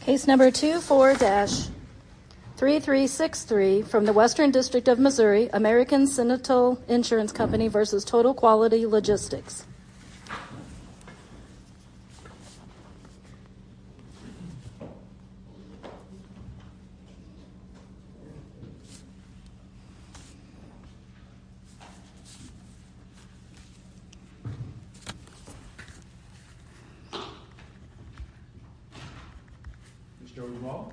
Case number 24-3363 from the Western District of Missouri, American Sentinel Insurance Company v. Total Quality Logistics Mr. O'Donnell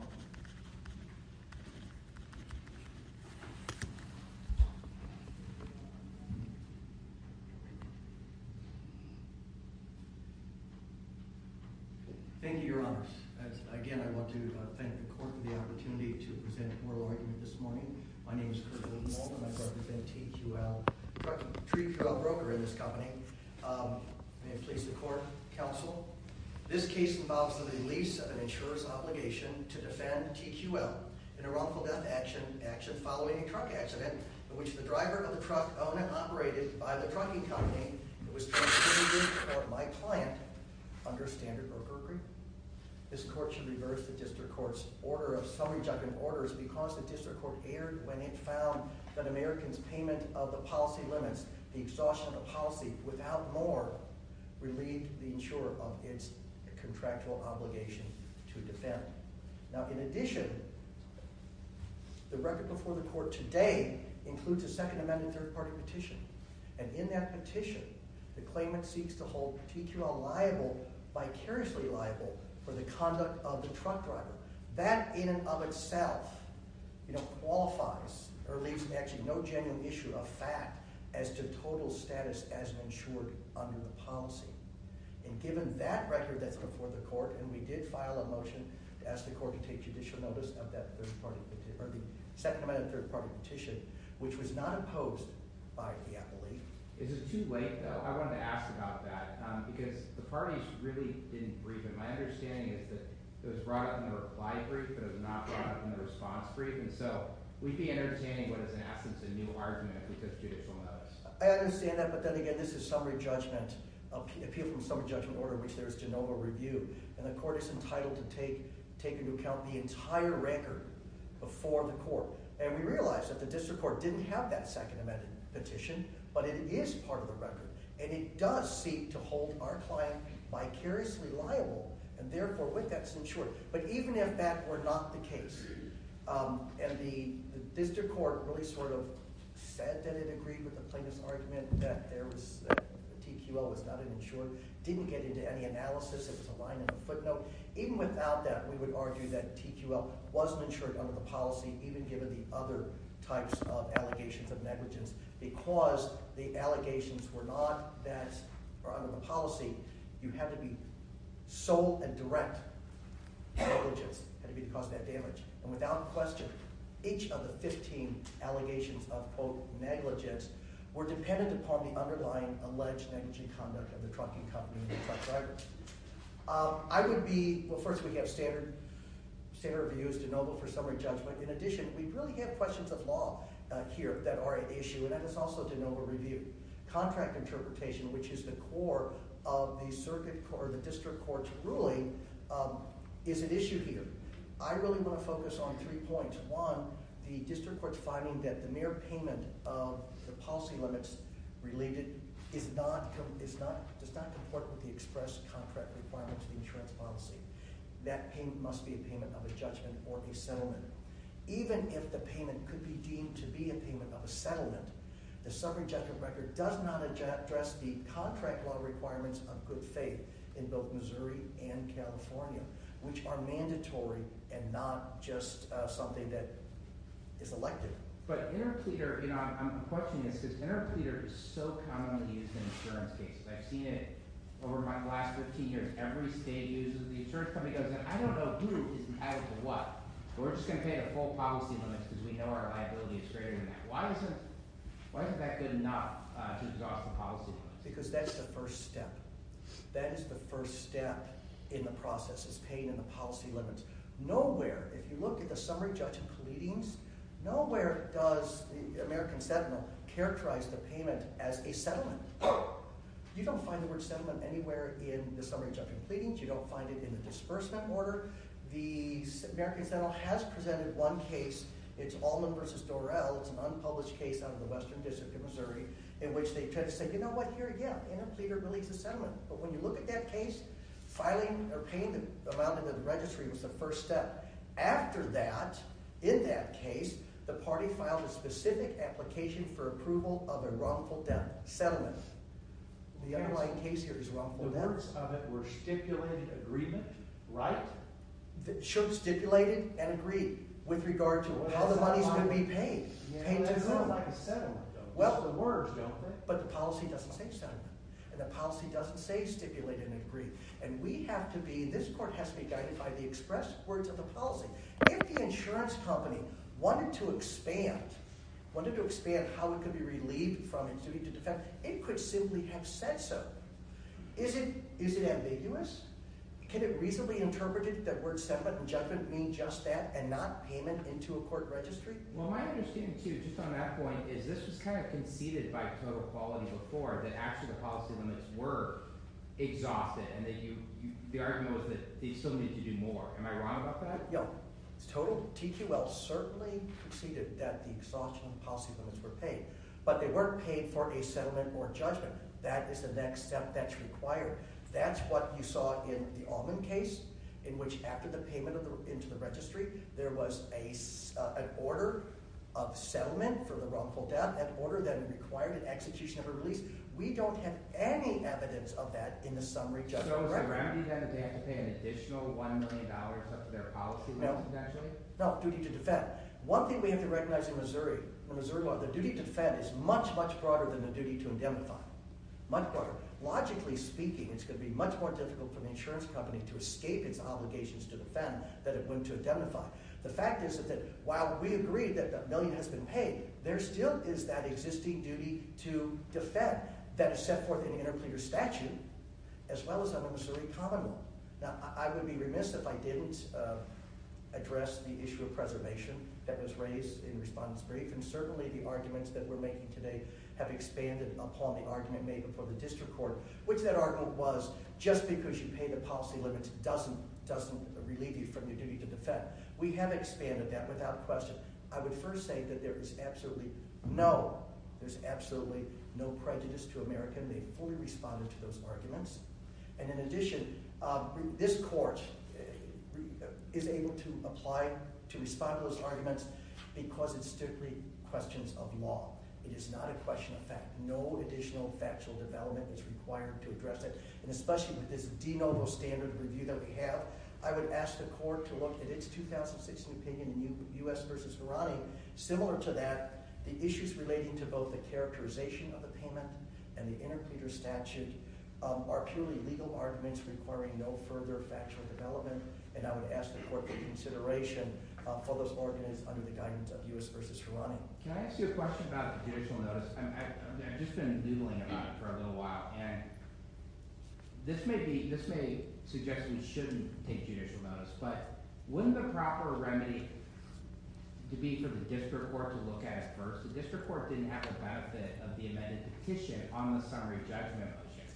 Thank you, your honors. Again, I want to thank the court for the opportunity to present a moral argument this morning. My name is Kurt O'Donnell and I represent TQL, TreeQL Broker in this company. May it please the court, counsel. This case involves the release of an insurer's obligation to defend TQL in a wrongful death action following a truck accident in which the driver of the truck owned and operated by the trucking company was transferred to my client under standard brokerage. This court should reverse the district court's summary judgment orders because the district court erred when it found that Americans' payment of the policy limits the exhaustion of the policy. Without more, we leave the insurer of its contractual obligation to defend. Now, in addition, the record before the court today includes a Second Amendment third-party petition. And in that petition, the claimant seeks to hold TQL liable, vicariously liable, for the conduct of the truck driver. That in and of itself, you know, qualifies or leaves actually no genuine issue of fact as to total status as an insurer under the policy. And given that record that's before the court, and we did file a motion to ask the court to take judicial notice of that third-party petition, or the Second Amendment third-party petition, which was not opposed by the appellee. Is it too late, though? I wanted to ask about that because the parties really didn't breathe it. My understanding is that it was brought up in the reply brief, but it was not brought up in the response brief. And so we'd be entertaining what is, in essence, a new argument if we took judicial notice. I understand that, but then again, this is a summary judgment appeal from a summary judgment order in which there is to no more review. And the court is entitled to take into account the entire record before the court. And we realize that the district court didn't have that Second Amendment petition, but it is part of the record. And it does seek to hold our client vicariously liable and, therefore, with that, it's insured. But even if that were not the case and the district court really sort of said that it agreed with the plaintiff's argument that there was – that TQL was not an insurer, didn't get into any analysis, it was a line in the footnote, even without that, we would argue that TQL wasn't insured under the policy even given the other types of allegations of negligence because the allegations were not that – were under the policy. You have to be sole and direct negligence had it been to cause that damage. And without question, each of the 15 allegations of, quote, negligence were dependent upon the underlying alleged negligent conduct of the trucking company and the truck driver. I would be – well, first, we have standard reviews, de novo, for summary judgment. In addition, we really have questions of law here that are an issue, and that is also de novo review. Contract interpretation, which is the core of the district court's ruling, is an issue here. I really want to focus on three points. One, the district court's finding that the mere payment of the policy limits related is not – does not comport with the express contract requirements of the insurance policy. That must be a payment of a judgment or a settlement. Even if the payment could be deemed to be a payment of a settlement, the summary judgment record does not address the contract law requirements of good faith in both Missouri and California, which are mandatory and not just something that is elected. But interpleader – you know, I'm questioning this because interpleader is so commonly used in insurance cases. I've seen it over the last 15 years. Every state uses it. The insurance company goes in. I don't know who is entitled to what, but we're just going to pay the full policy limits because we know our liability is greater than that. Why isn't that good enough to exhaust the policy limits? Because that's the first step. That is the first step in the process is paying in the policy limits. Nowhere – if you look at the summary judgment pleadings, nowhere does the American Sentinel characterize the payment as a settlement. You don't find the word settlement anywhere in the summary judgment pleadings. You don't find it in the disbursement order. The American Sentinel has presented one case. It's Allman v. Dorrell. It's an unpublished case out of the Western District of Missouri in which they try to say, you know what, here, yeah, interpleader really is a settlement. But when you look at that case, filing or paying the amount into the registry was the first step. After that, in that case, the party filed a specific application for approval of a wrongful settlement. The underlying case here is wrongful settlement. The words of it were stipulated agreement, right? Sure, stipulated and agreed with regard to how the money is going to be paid. Yeah, but it sounds like a settlement. Well – It's the words, don't it? But the policy doesn't say settlement, and the policy doesn't say stipulated and agreed. And we have to be – this court has to be guided by the expressed words of the policy. If the insurance company wanted to expand, wanted to expand how it could be relieved from its duty to defend, it could simply have said so. Is it ambiguous? Can it reasonably interpret it that word settlement and judgment mean just that and not payment into a court registry? Well, my understanding too, just on that point, is this was kind of conceded by Total Quality before that actually the policy limits were exhausted and that you – the argument was that they still needed to do more. Am I wrong about that? Yeah. Total – TQL certainly conceded that the exhaustion of policy limits were paid, but they weren't paid for a settlement or judgment. That is the next step that's required. That's what you saw in the Allman case in which after the payment into the registry there was an order of settlement for the wrongful death, an order that required an execution of a release. We don't have any evidence of that in the summary judgment. So is the remedy then that they have to pay an additional $1 million up to their policy limits? No. No, duty to defend. One thing we have to recognize in Missouri, the duty to defend is much, much broader than the duty to indemnify. Much broader. Logically speaking, it's going to be much more difficult for the insurance company to escape its obligations to defend than it would to indemnify. The fact is that while we agree that $1 million has been paid, there still is that existing duty to defend that is set forth in the Interpreter Statute as well as the Missouri Common Law. Now, I would be remiss if I didn't address the issue of preservation that was raised in Respondent's Brief. And certainly the arguments that we're making today have expanded upon the argument made before the district court, which that argument was just because you pay the policy limits doesn't relieve you from your duty to defend. We have expanded that without question. I would first say that there is absolutely no – there's absolutely no prejudice to Americans. They fully responded to those arguments. And in addition, this court is able to apply – to respond to those arguments because it's strictly questions of law. It is not a question of fact. No additional factual development is required to address it. And especially with this de novo standard review that we have, I would ask the court to look at its 2016 opinion in U.S. v. Virani. Similar to that, the issues relating to both the characterization of the payment and the Interpreter Statute are purely legal arguments requiring no further factual development. And I would ask the court to take consideration for those arguments under the guidance of U.S. v. Virani. Can I ask you a question about the judicial notice? I've just been noodling about it for a little while, and this may be – this may suggest we shouldn't take judicial notice. But wouldn't the proper remedy to be for the district court to look at it first? The district court didn't have the benefit of the amended petition on the summary judgment motion.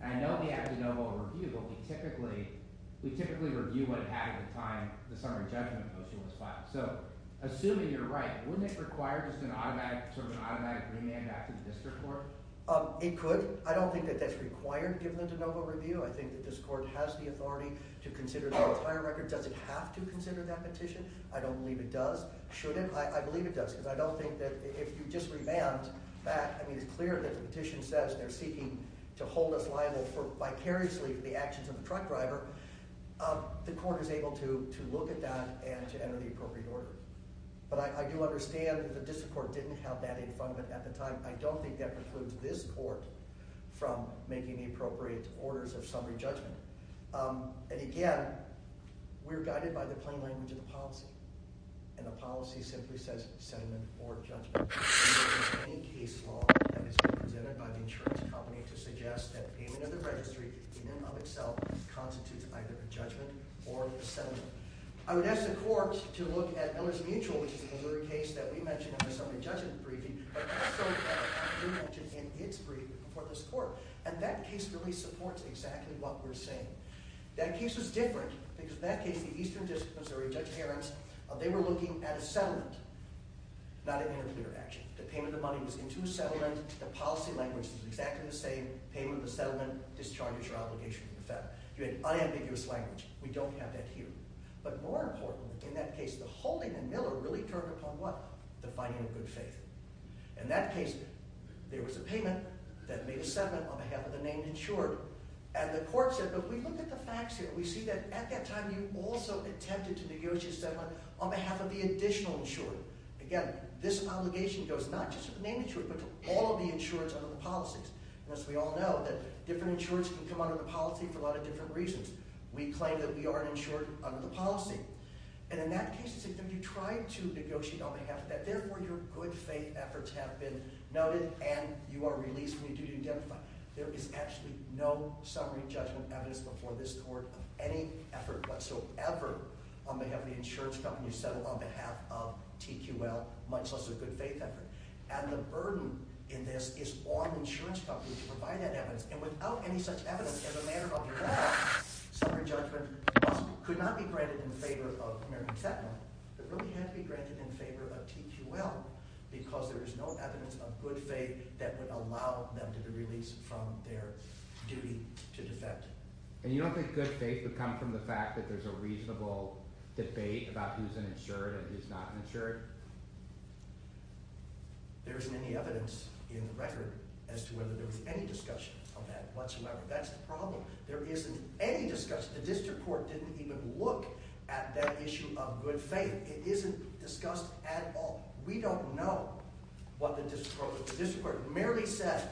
And I know we have de novo review, but we typically – we typically review what happened at the time the summary judgment motion was filed. So assuming you're right, wouldn't it require just an automatic – sort of an automatic remand back to the district court? It could. I don't think that that's required given the de novo review. I think that this court has the authority to consider the entire record. Does it have to consider that petition? I don't believe it does. Should it? I believe it does because I don't think that if you just remand back – I mean, it's clear that the petition says they're seeking to hold us liable for vicariously the actions of the truck driver. The court is able to look at that and to enter the appropriate order. But I do understand that the district court didn't have that in front of it at the time. I don't think that precludes this court from making the appropriate orders of summary judgment. And again, we're guided by the plain language of the policy, and the policy simply says sentiment for judgment. …any case law that is presented by the insurance company to suggest that payment of the registry, in and of itself, constitutes either a judgment or a settlement. I would ask the court to look at Miller's Mutual, which is a Missouri case that we mentioned in the summary judgment briefing, but also you mentioned in its briefing before this court. And that case really supports exactly what we're saying. That case was different because in that case, the eastern district of Missouri, Judge Herentz, they were looking at a settlement, not an interpreter action. The payment of the money was into a settlement. The policy language is exactly the same. Payment of the settlement discharges your obligation to the fed. You had unambiguous language. We don't have that here. But more important in that case, the holding in Miller really took upon what? The finding of good faith. In that case, there was a payment that made a settlement on behalf of the named insured. And the court said, but we looked at the facts here. We see that at that time, you also attempted to negotiate a settlement on behalf of the additional insured. Again, this obligation goes not just to the named insured, but to all of the insureds under the policies. As we all know, different insureds can come under the policy for a lot of different reasons. We claim that we are an insured under the policy. And in that case, you tried to negotiate on behalf of that. Therefore, your good faith efforts have been noted and you are released from your duty to identify. There is actually no summary judgment evidence before this court of any effort whatsoever on behalf of the insurance company to settle on behalf of TQL, much less a good faith effort. And the burden in this is on the insurance company to provide that evidence. And without any such evidence, as a matter of fact, summary judgment could not be granted in favor of American Tech. It really had to be granted in favor of TQL because there is no evidence of good faith that would allow them to be released. from their duty to defect. And you don't think good faith would come from the fact that there's a reasonable debate about who's an insured and who's not an insured? There isn't any evidence in the record as to whether there was any discussion of that whatsoever. That's the problem. There isn't any discussion. The district court didn't even look at that issue of good faith. It isn't discussed at all. We don't know what the district court – the district court merely said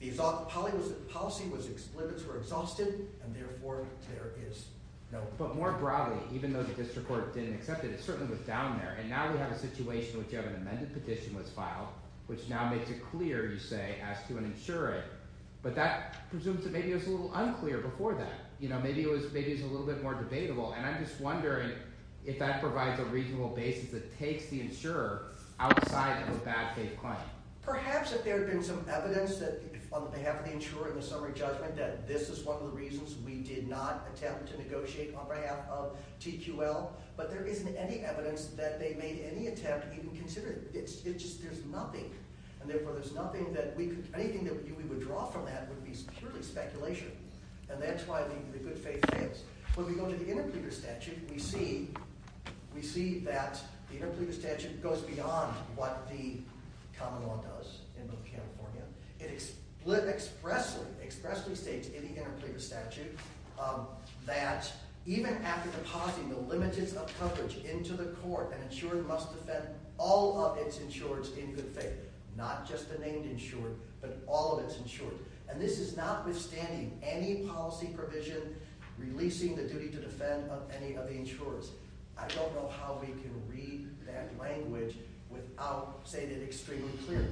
the policy was – limits were exhausted and therefore there is no – But more broadly, even though the district court didn't accept it, it certainly was down there. And now we have a situation in which an amended petition was filed, which now makes it clear, you say, as to an insured. But that presumes that maybe it was a little unclear before that. Maybe it was – maybe it was a little bit more debatable. And I'm just wondering if that provides a reasonable basis that takes the insurer outside of a bad faith claim. Perhaps if there had been some evidence on behalf of the insurer in the summary judgment that this is one of the reasons we did not attempt to negotiate on behalf of TQL. But there isn't any evidence that they made any attempt to even consider it. It's just – there's nothing. And therefore there's nothing that we could – anything that we would draw from that would be purely speculation. And that's why the good faith fails. When we go to the interpleader statute, we see – we see that the interpleader statute goes beyond what the common law does in North California. It expressly – expressly states in the interpleader statute that even after depositing the limiteds of coverage into the court, an insurer must defend all of its insureds in good faith. Not just the named insured, but all of its insured. And this is notwithstanding any policy provision releasing the duty to defend any of the insurers. I don't know how we can read that language without saying it extremely clearly.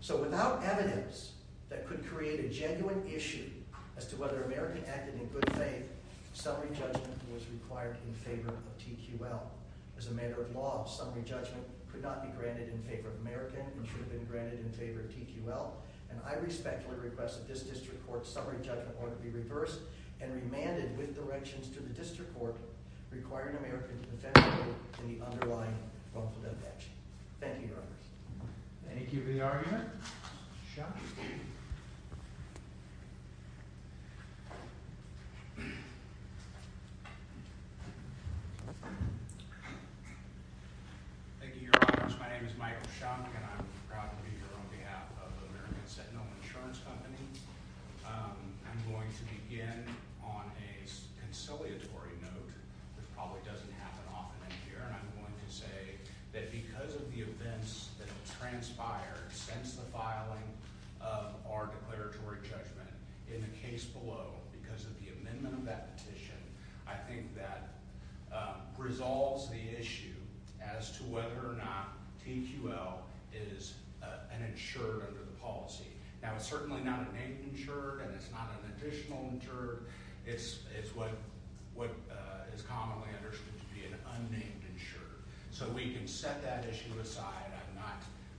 So without evidence that could create a genuine issue as to whether an American acted in good faith, summary judgment was required in favor of TQL. As a matter of law, summary judgment could not be granted in favor of American. It should have been granted in favor of TQL. And I respectfully request that this district court's summary judgment order be reversed and remanded with directions to the district court requiring American to defend TQL in the underlying wrongful death action. Thank you, Your Honors. Thank you for the argument. Sean. Thank you, Your Honors. My name is Michael Schock and I'm proud to be here on behalf of American Sentinel Insurance Company. I'm going to begin on a conciliatory note, which probably doesn't happen often in here. And I'm going to say that because of the events that transpired since the filing of our declaratory judgment in the case below, because of the amendment of that petition, I think that resolves the issue as to whether or not TQL is an insured under the policy. Now, it's certainly not a named insured and it's not an additional insured. It's what is commonly understood to be an unnamed insured. So we can set that issue aside.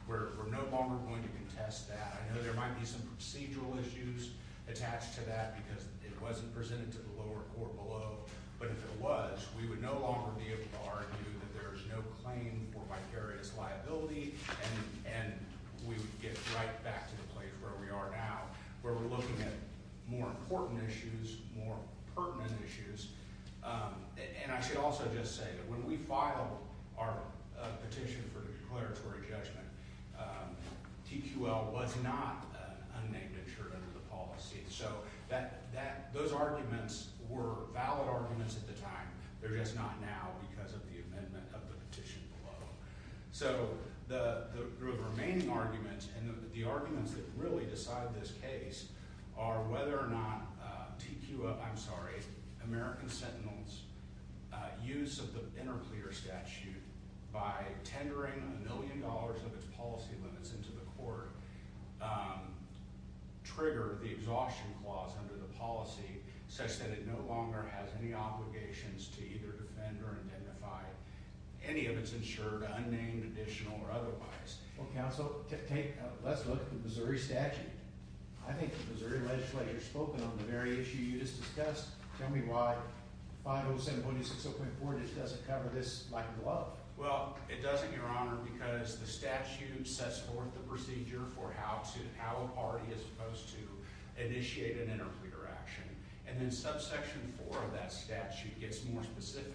We're no longer going to contest that. I know there might be some procedural issues attached to that because it wasn't presented to the lower court below. But if it was, we would no longer be able to argue that there is no claim for vicarious liability. And we would get right back to the place where we are now, where we're looking at more important issues, more pertinent issues. And I should also just say that when we filed our petition for declaratory judgment, TQL was not an unnamed insured under the policy. So those arguments were valid arguments at the time. They're just not now because of the amendment of the petition below. So the remaining arguments and the arguments that really decide this case are whether or not TQL – I'm sorry – American Sentinels' use of the interclear statute by tendering a million dollars of its policy limits into the court trigger the exhaustion clause under the policy such that it no longer has any obligations to either defend or identify any of its insured, unnamed, additional, or otherwise. Well, counsel, let's look at the Missouri statute. I think the Missouri legislature has spoken on the very issue you just discussed. Tell me why 507.60.4 just doesn't cover this like a glove. Well, it doesn't, Your Honor, because the statute sets forth the procedure for how to – how a party is supposed to initiate an interclear action. And then subsection 4 of that statute gets more specific.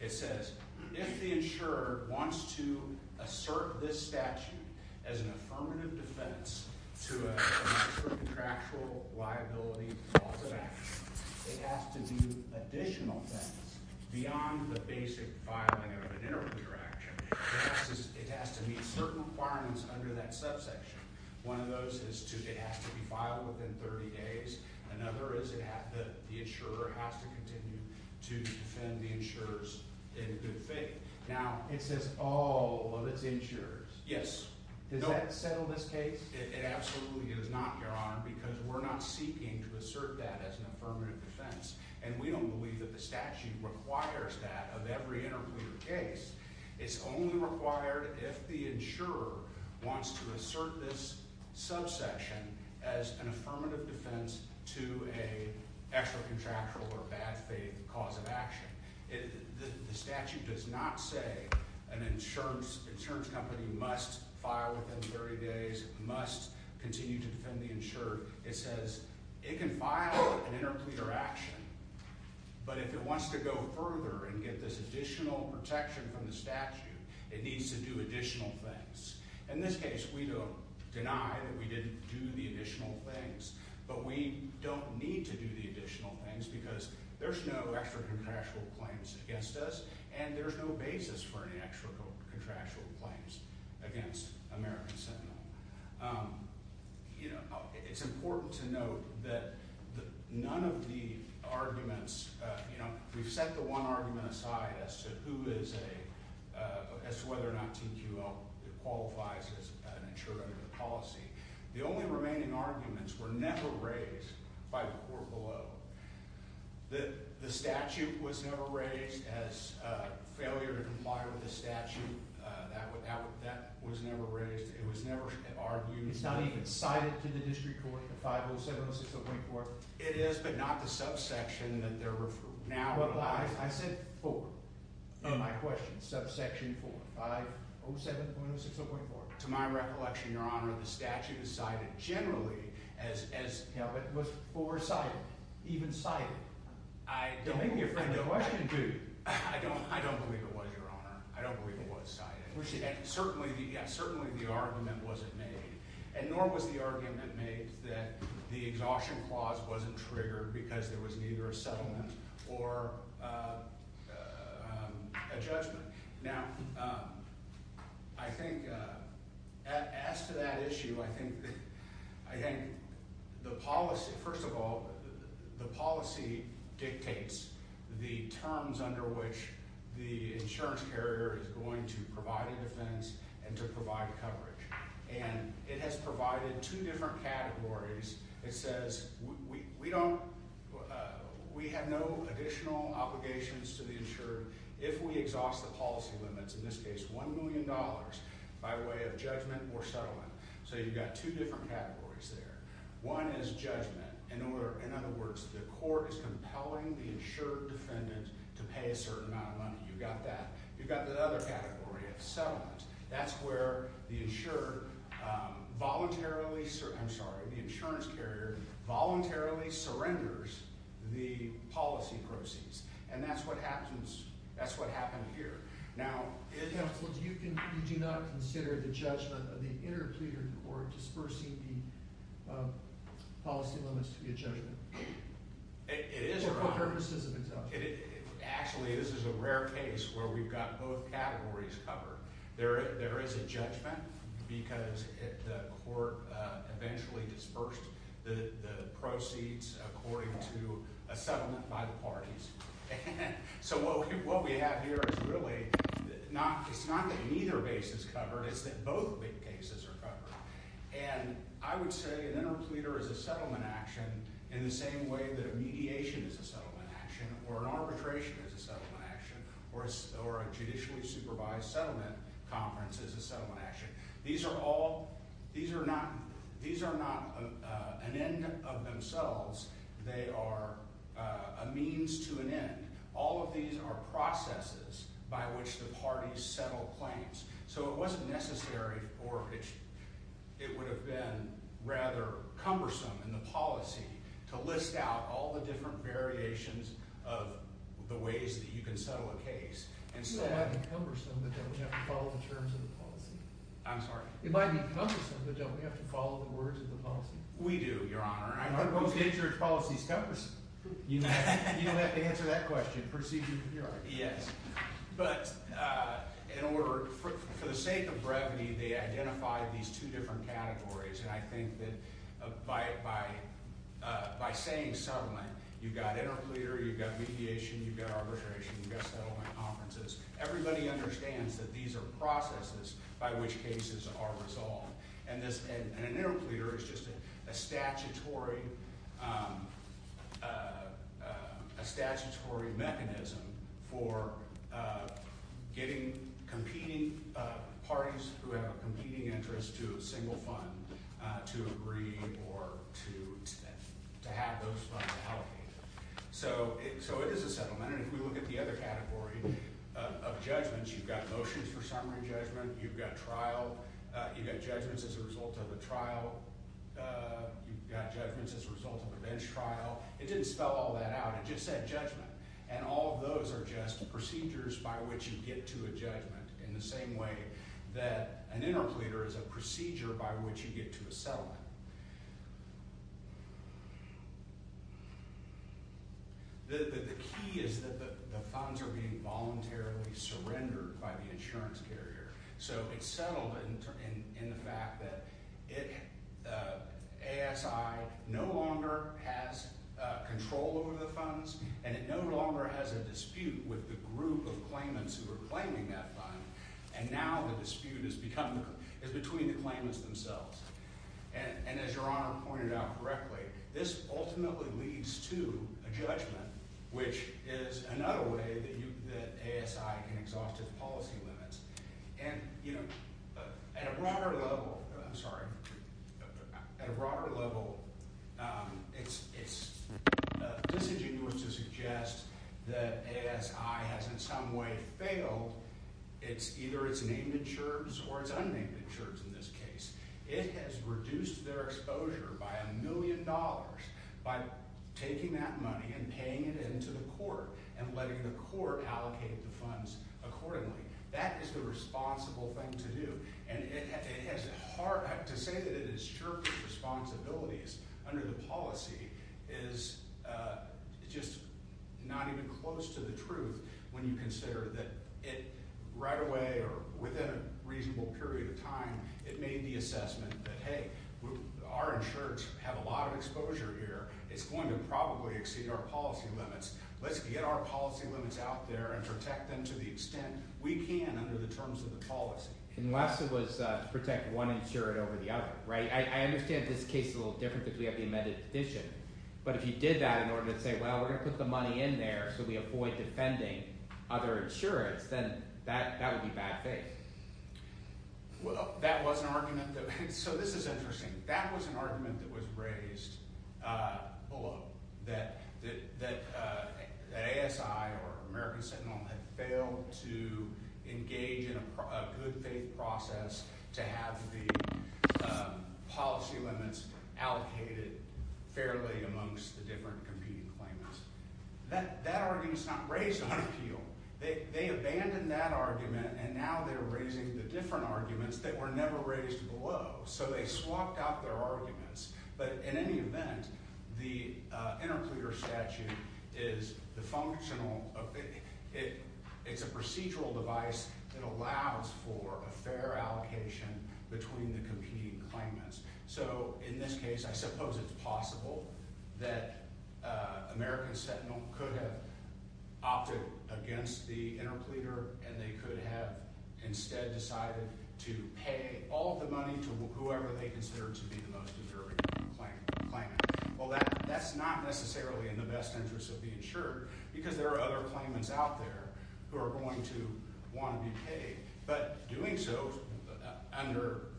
It says if the insurer wants to assert this statute as an affirmative defense to a contractual liability clause of action, it has to do additional things beyond the basic filing of an interclear action. It has to meet certain requirements under that subsection. One of those is it has to be filed within 30 days. Another is the insurer has to continue to defend the insurers in good faith. Now it says all of its insurers. Yes. Does that settle this case? It absolutely does not, Your Honor, because we're not seeking to assert that as an affirmative defense. And we don't believe that the statute requires that of every interclear case. It's only required if the insurer wants to assert this subsection as an affirmative defense to an extra contractual or bad faith clause of action. The statute does not say an insurance company must file within 30 days, must continue to defend the insurer. It says it can file an interclear action, but if it wants to go further and get this additional protection from the statute, it needs to do additional things. In this case, we don't deny that we didn't do the additional things. But we don't need to do the additional things because there's no extra contractual claims against us, and there's no basis for any extra contractual claims against American Sentinel. You know, it's important to note that none of the arguments, you know, we've set the one argument aside as to who is a – as to whether or not TQL qualifies as an insurer under the policy. The only remaining arguments were never raised by the court below. The statute was never raised as failure to comply with the statute. That was never raised. It was never argued. It's not even cited to the district court, the 507.06.04? It is, but not the subsection that they're now – I said four in my question, subsection four, 507.06.04. To my recollection, Your Honor, the statute is cited generally as – It was foresighted, even cited. You're making me afraid of the question, too. I don't believe it was, Your Honor. I don't believe it was cited. And certainly the argument wasn't made, and nor was the argument made that the exhaustion clause wasn't triggered because there was neither a settlement or a judgment. Now, I think as to that issue, I think the policy – first of all, the policy dictates the terms under which the insurance carrier is going to provide a defense and to provide coverage. And it has provided two different categories. It says we don't – we have no additional obligations to the insured if we exhaust the policy limits, in this case $1 million, by way of judgment or settlement. So you've got two different categories there. One is judgment. In other words, the court is compelling the insured defendant to pay a certain amount of money. You've got that. You've got the other category of settlement. That's where the insured voluntarily – I'm sorry, the insurance carrier voluntarily surrenders the policy proceeds. And that's what happens – that's what happened here. Now – Counsel, do you do not consider the judgment of the interpleaded court dispersing the policy limits to be a judgment? It is, Your Honor. For what purposes, exactly? Actually, this is a rare case where we've got both categories covered. There is a judgment because the court eventually dispersed the proceeds according to a settlement by the parties. So what we have here is really not – it's not that neither case is covered. It's that both big cases are covered. And I would say an interpleader is a settlement action in the same way that a mediation is a settlement action or an arbitration is a settlement action or a judicially supervised settlement conference is a settlement action. These are all – these are not – these are not an end of themselves. They are a means to an end. All of these are processes by which the parties settle claims. So it wasn't necessary for – it would have been rather cumbersome in the policy to list out all the different variations of the ways that you can settle a case. It might be cumbersome, but don't we have to follow the terms of the policy? I'm sorry? It might be cumbersome, but don't we have to follow the words of the policy? We do, Your Honor. I'm not opposed to it. I think your policy is cumbersome. You don't have to answer that question. Proceed with your argument. Yes. But in order – for the sake of brevity, they identified these two different categories. And I think that by saying settlement, you've got interpleader, you've got mediation, you've got arbitration, you've got settlement conferences. Everybody understands that these are processes by which cases are resolved. And an interpleader is just a statutory mechanism for getting competing parties who have a competing interest to a single fund to agree or to have those funds allocated. So it is a settlement. And if we look at the other category of judgments, you've got motions for summary judgment, you've got trial, you've got judgments as a result of a trial, you've got judgments as a result of a bench trial. It didn't spell all that out. It just said judgment. And all of those are just procedures by which you get to a judgment in the same way that an interpleader is a procedure by which you get to a settlement. The key is that the funds are being voluntarily surrendered by the insurance carrier. So it's settlement in the fact that ASI no longer has control over the funds and it no longer has a dispute with the group of claimants who are claiming that fund. And now the dispute is between the claimants themselves. And as Your Honor pointed out correctly, this ultimately leads to a judgment, which is another way that ASI can exhaust its policy limits. And, you know, at a broader level – I'm sorry. At a broader level, it's disingenuous to suggest that ASI has in some way failed either its named insurers or its unnamed insurers in this case. It has reduced their exposure by a million dollars by taking that money and paying it into the court and letting the court allocate the funds accordingly. That is the responsible thing to do. And it has – to say that it has shirked its responsibilities under the policy is just not even close to the truth when you consider that it right away or within a reasonable period of time, it made the assessment that, hey, our insurers have a lot of exposure here. It's going to probably exceed our policy limits. Let's get our policy limits out there and protect them to the extent we can under the terms of the policy. Unless it was to protect one insurer over the other. I understand this case is a little different because we have the amended petition, but if you did that in order to say, well, we're going to put the money in there so we avoid defending other insurers, then that would be bad faith. Well, that was an argument – so this is interesting. That was an argument that was raised below that ASI or American Sentinel had failed to engage in a good-faith process to have the policy limits allocated fairly amongst the different competing claimants. That argument is not raised on appeal. They abandoned that argument, and now they're raising the different arguments that were never raised below, so they swapped out their arguments. But in any event, the interclear statute is the functional – it's a procedural device that allows for a fair allocation between the competing claimants. So in this case, I suppose it's possible that American Sentinel could have opted against the interclear and they could have instead decided to pay all of the money to whoever they considered to be the most deserving claimant. Well, that's not necessarily in the best interest of the insurer because there are other claimants out there who are going to want to be paid. But doing so under –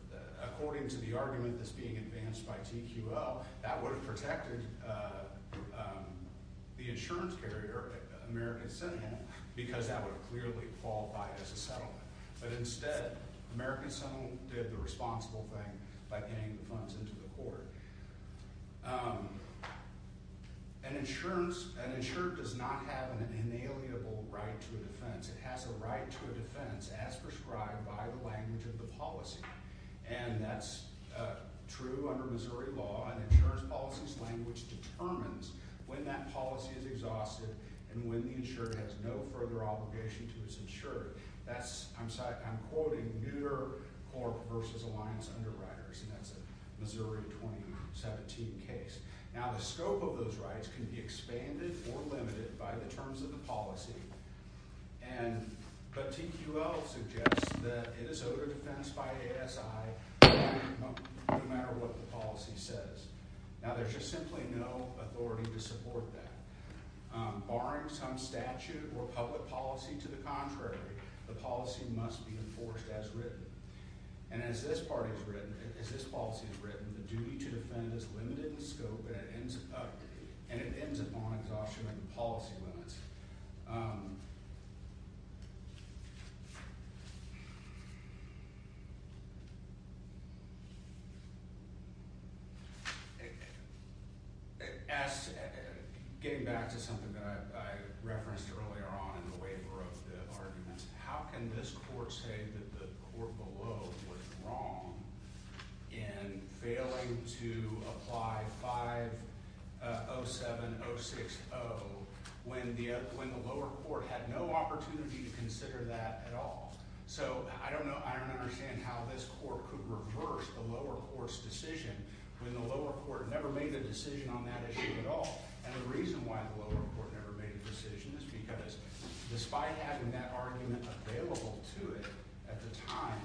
according to the argument that's being advanced by TQL, that would have protected the insurance carrier, American Sentinel, because that would have clearly qualified as a settlement. But instead, American Sentinel did the responsible thing by getting the funds into the court. An insurer does not have an inalienable right to a defense. It has a right to a defense as prescribed by the language of the policy, and that's true under Missouri law. An insurance policy's language determines when that policy is exhausted and when the insurer has no further obligation to his insurer. I'm quoting Mütter Corp. v. Alliance Underwriters, and that's a Missouri 2017 case. Now the scope of those rights can be expanded or limited by the terms of the policy, but TQL suggests that it is owed a defense by ASI no matter what the policy says. Now there's just simply no authority to support that. Barring some statute or public policy to the contrary, the policy must be enforced as written. And as this part is written, as this policy is written, the duty to defend is limited in scope, and it ends up – and it ends upon exhaustion of the policy limits. As – getting back to something that I referenced earlier on in the waiver of the argument, how can this court say that the court below was wrong in failing to apply 507060 when the lower court had no opportunity to consider that at all? So I don't know – I don't understand how this court could reverse the lower court's decision when the lower court never made a decision on that issue at all. And the reason why the lower court never made a decision is because despite having that argument available to it at the time,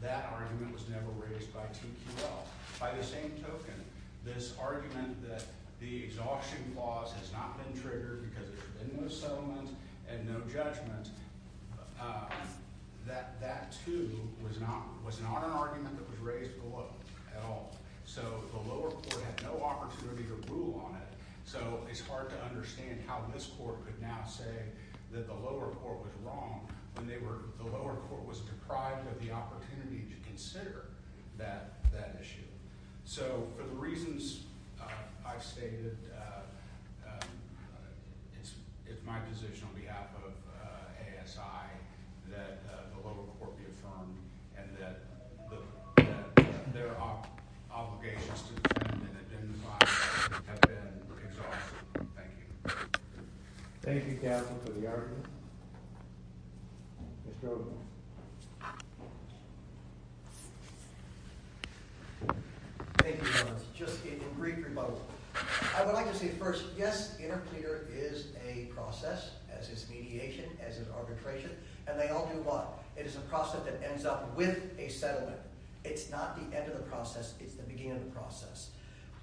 that argument was never raised by TQL. By the same token, this argument that the exhaustion clause has not been triggered because there's been no settlement and no judgment, that too was not an argument that was raised at all. So the lower court had no opportunity to rule on it, so it's hard to understand how this court could now say that the lower court was wrong when they were – the lower court was deprived of the opportunity to consider that issue. So for the reasons I've stated, it's my position on behalf of ASI that the lower court be affirmed and that their obligations to determine and identify have been exhausted. Thank you. Thank you, counsel, for the argument. Mr. O'Connor. Thank you, Your Honor. Just a brief rebuttal. I would like to say first, yes, interclear is a process, as is mediation, as is arbitration, and they all do what? It is a process that ends up with a settlement. It's not the end of the process, it's the beginning of the process.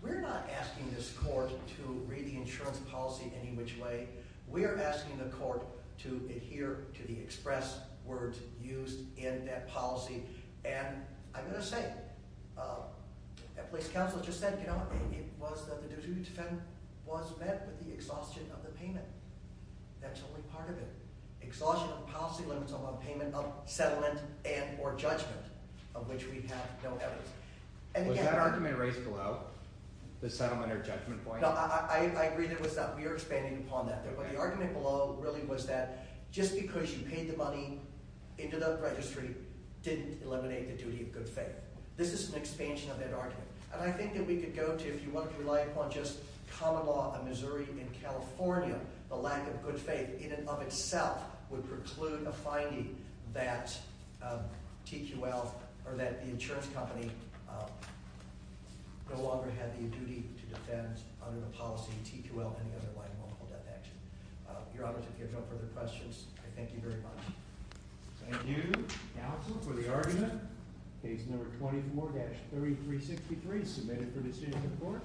We're not asking this court to read the insurance policy any which way. We are asking the court to adhere to the express words used in that policy, and I'm going to say, that police counsel just said, you know, it was that the duty to defend was met with the exhaustion of the payment. That's only part of it. Exhaustion of policy limits upon payment of settlement and or judgment, of which we have no evidence. Was that argument raised below, the settlement or judgment point? No, I agree that it was not. We are expanding upon that there. But the argument below really was that just because you paid the money into the registry didn't eliminate the duty of good faith. This is an expansion of that argument, and I think that we could go to, if you want to rely upon just common law of Missouri and California, the lack of good faith in and of itself would preclude a finding that TQL or that the insurance company no longer had the duty to defend under the policy of TQL and the underlying multiple death action. Your Honors, if you have no further questions, I thank you very much. Thank you, counsel, for the argument. Case number 24-3363 submitted for decision in court.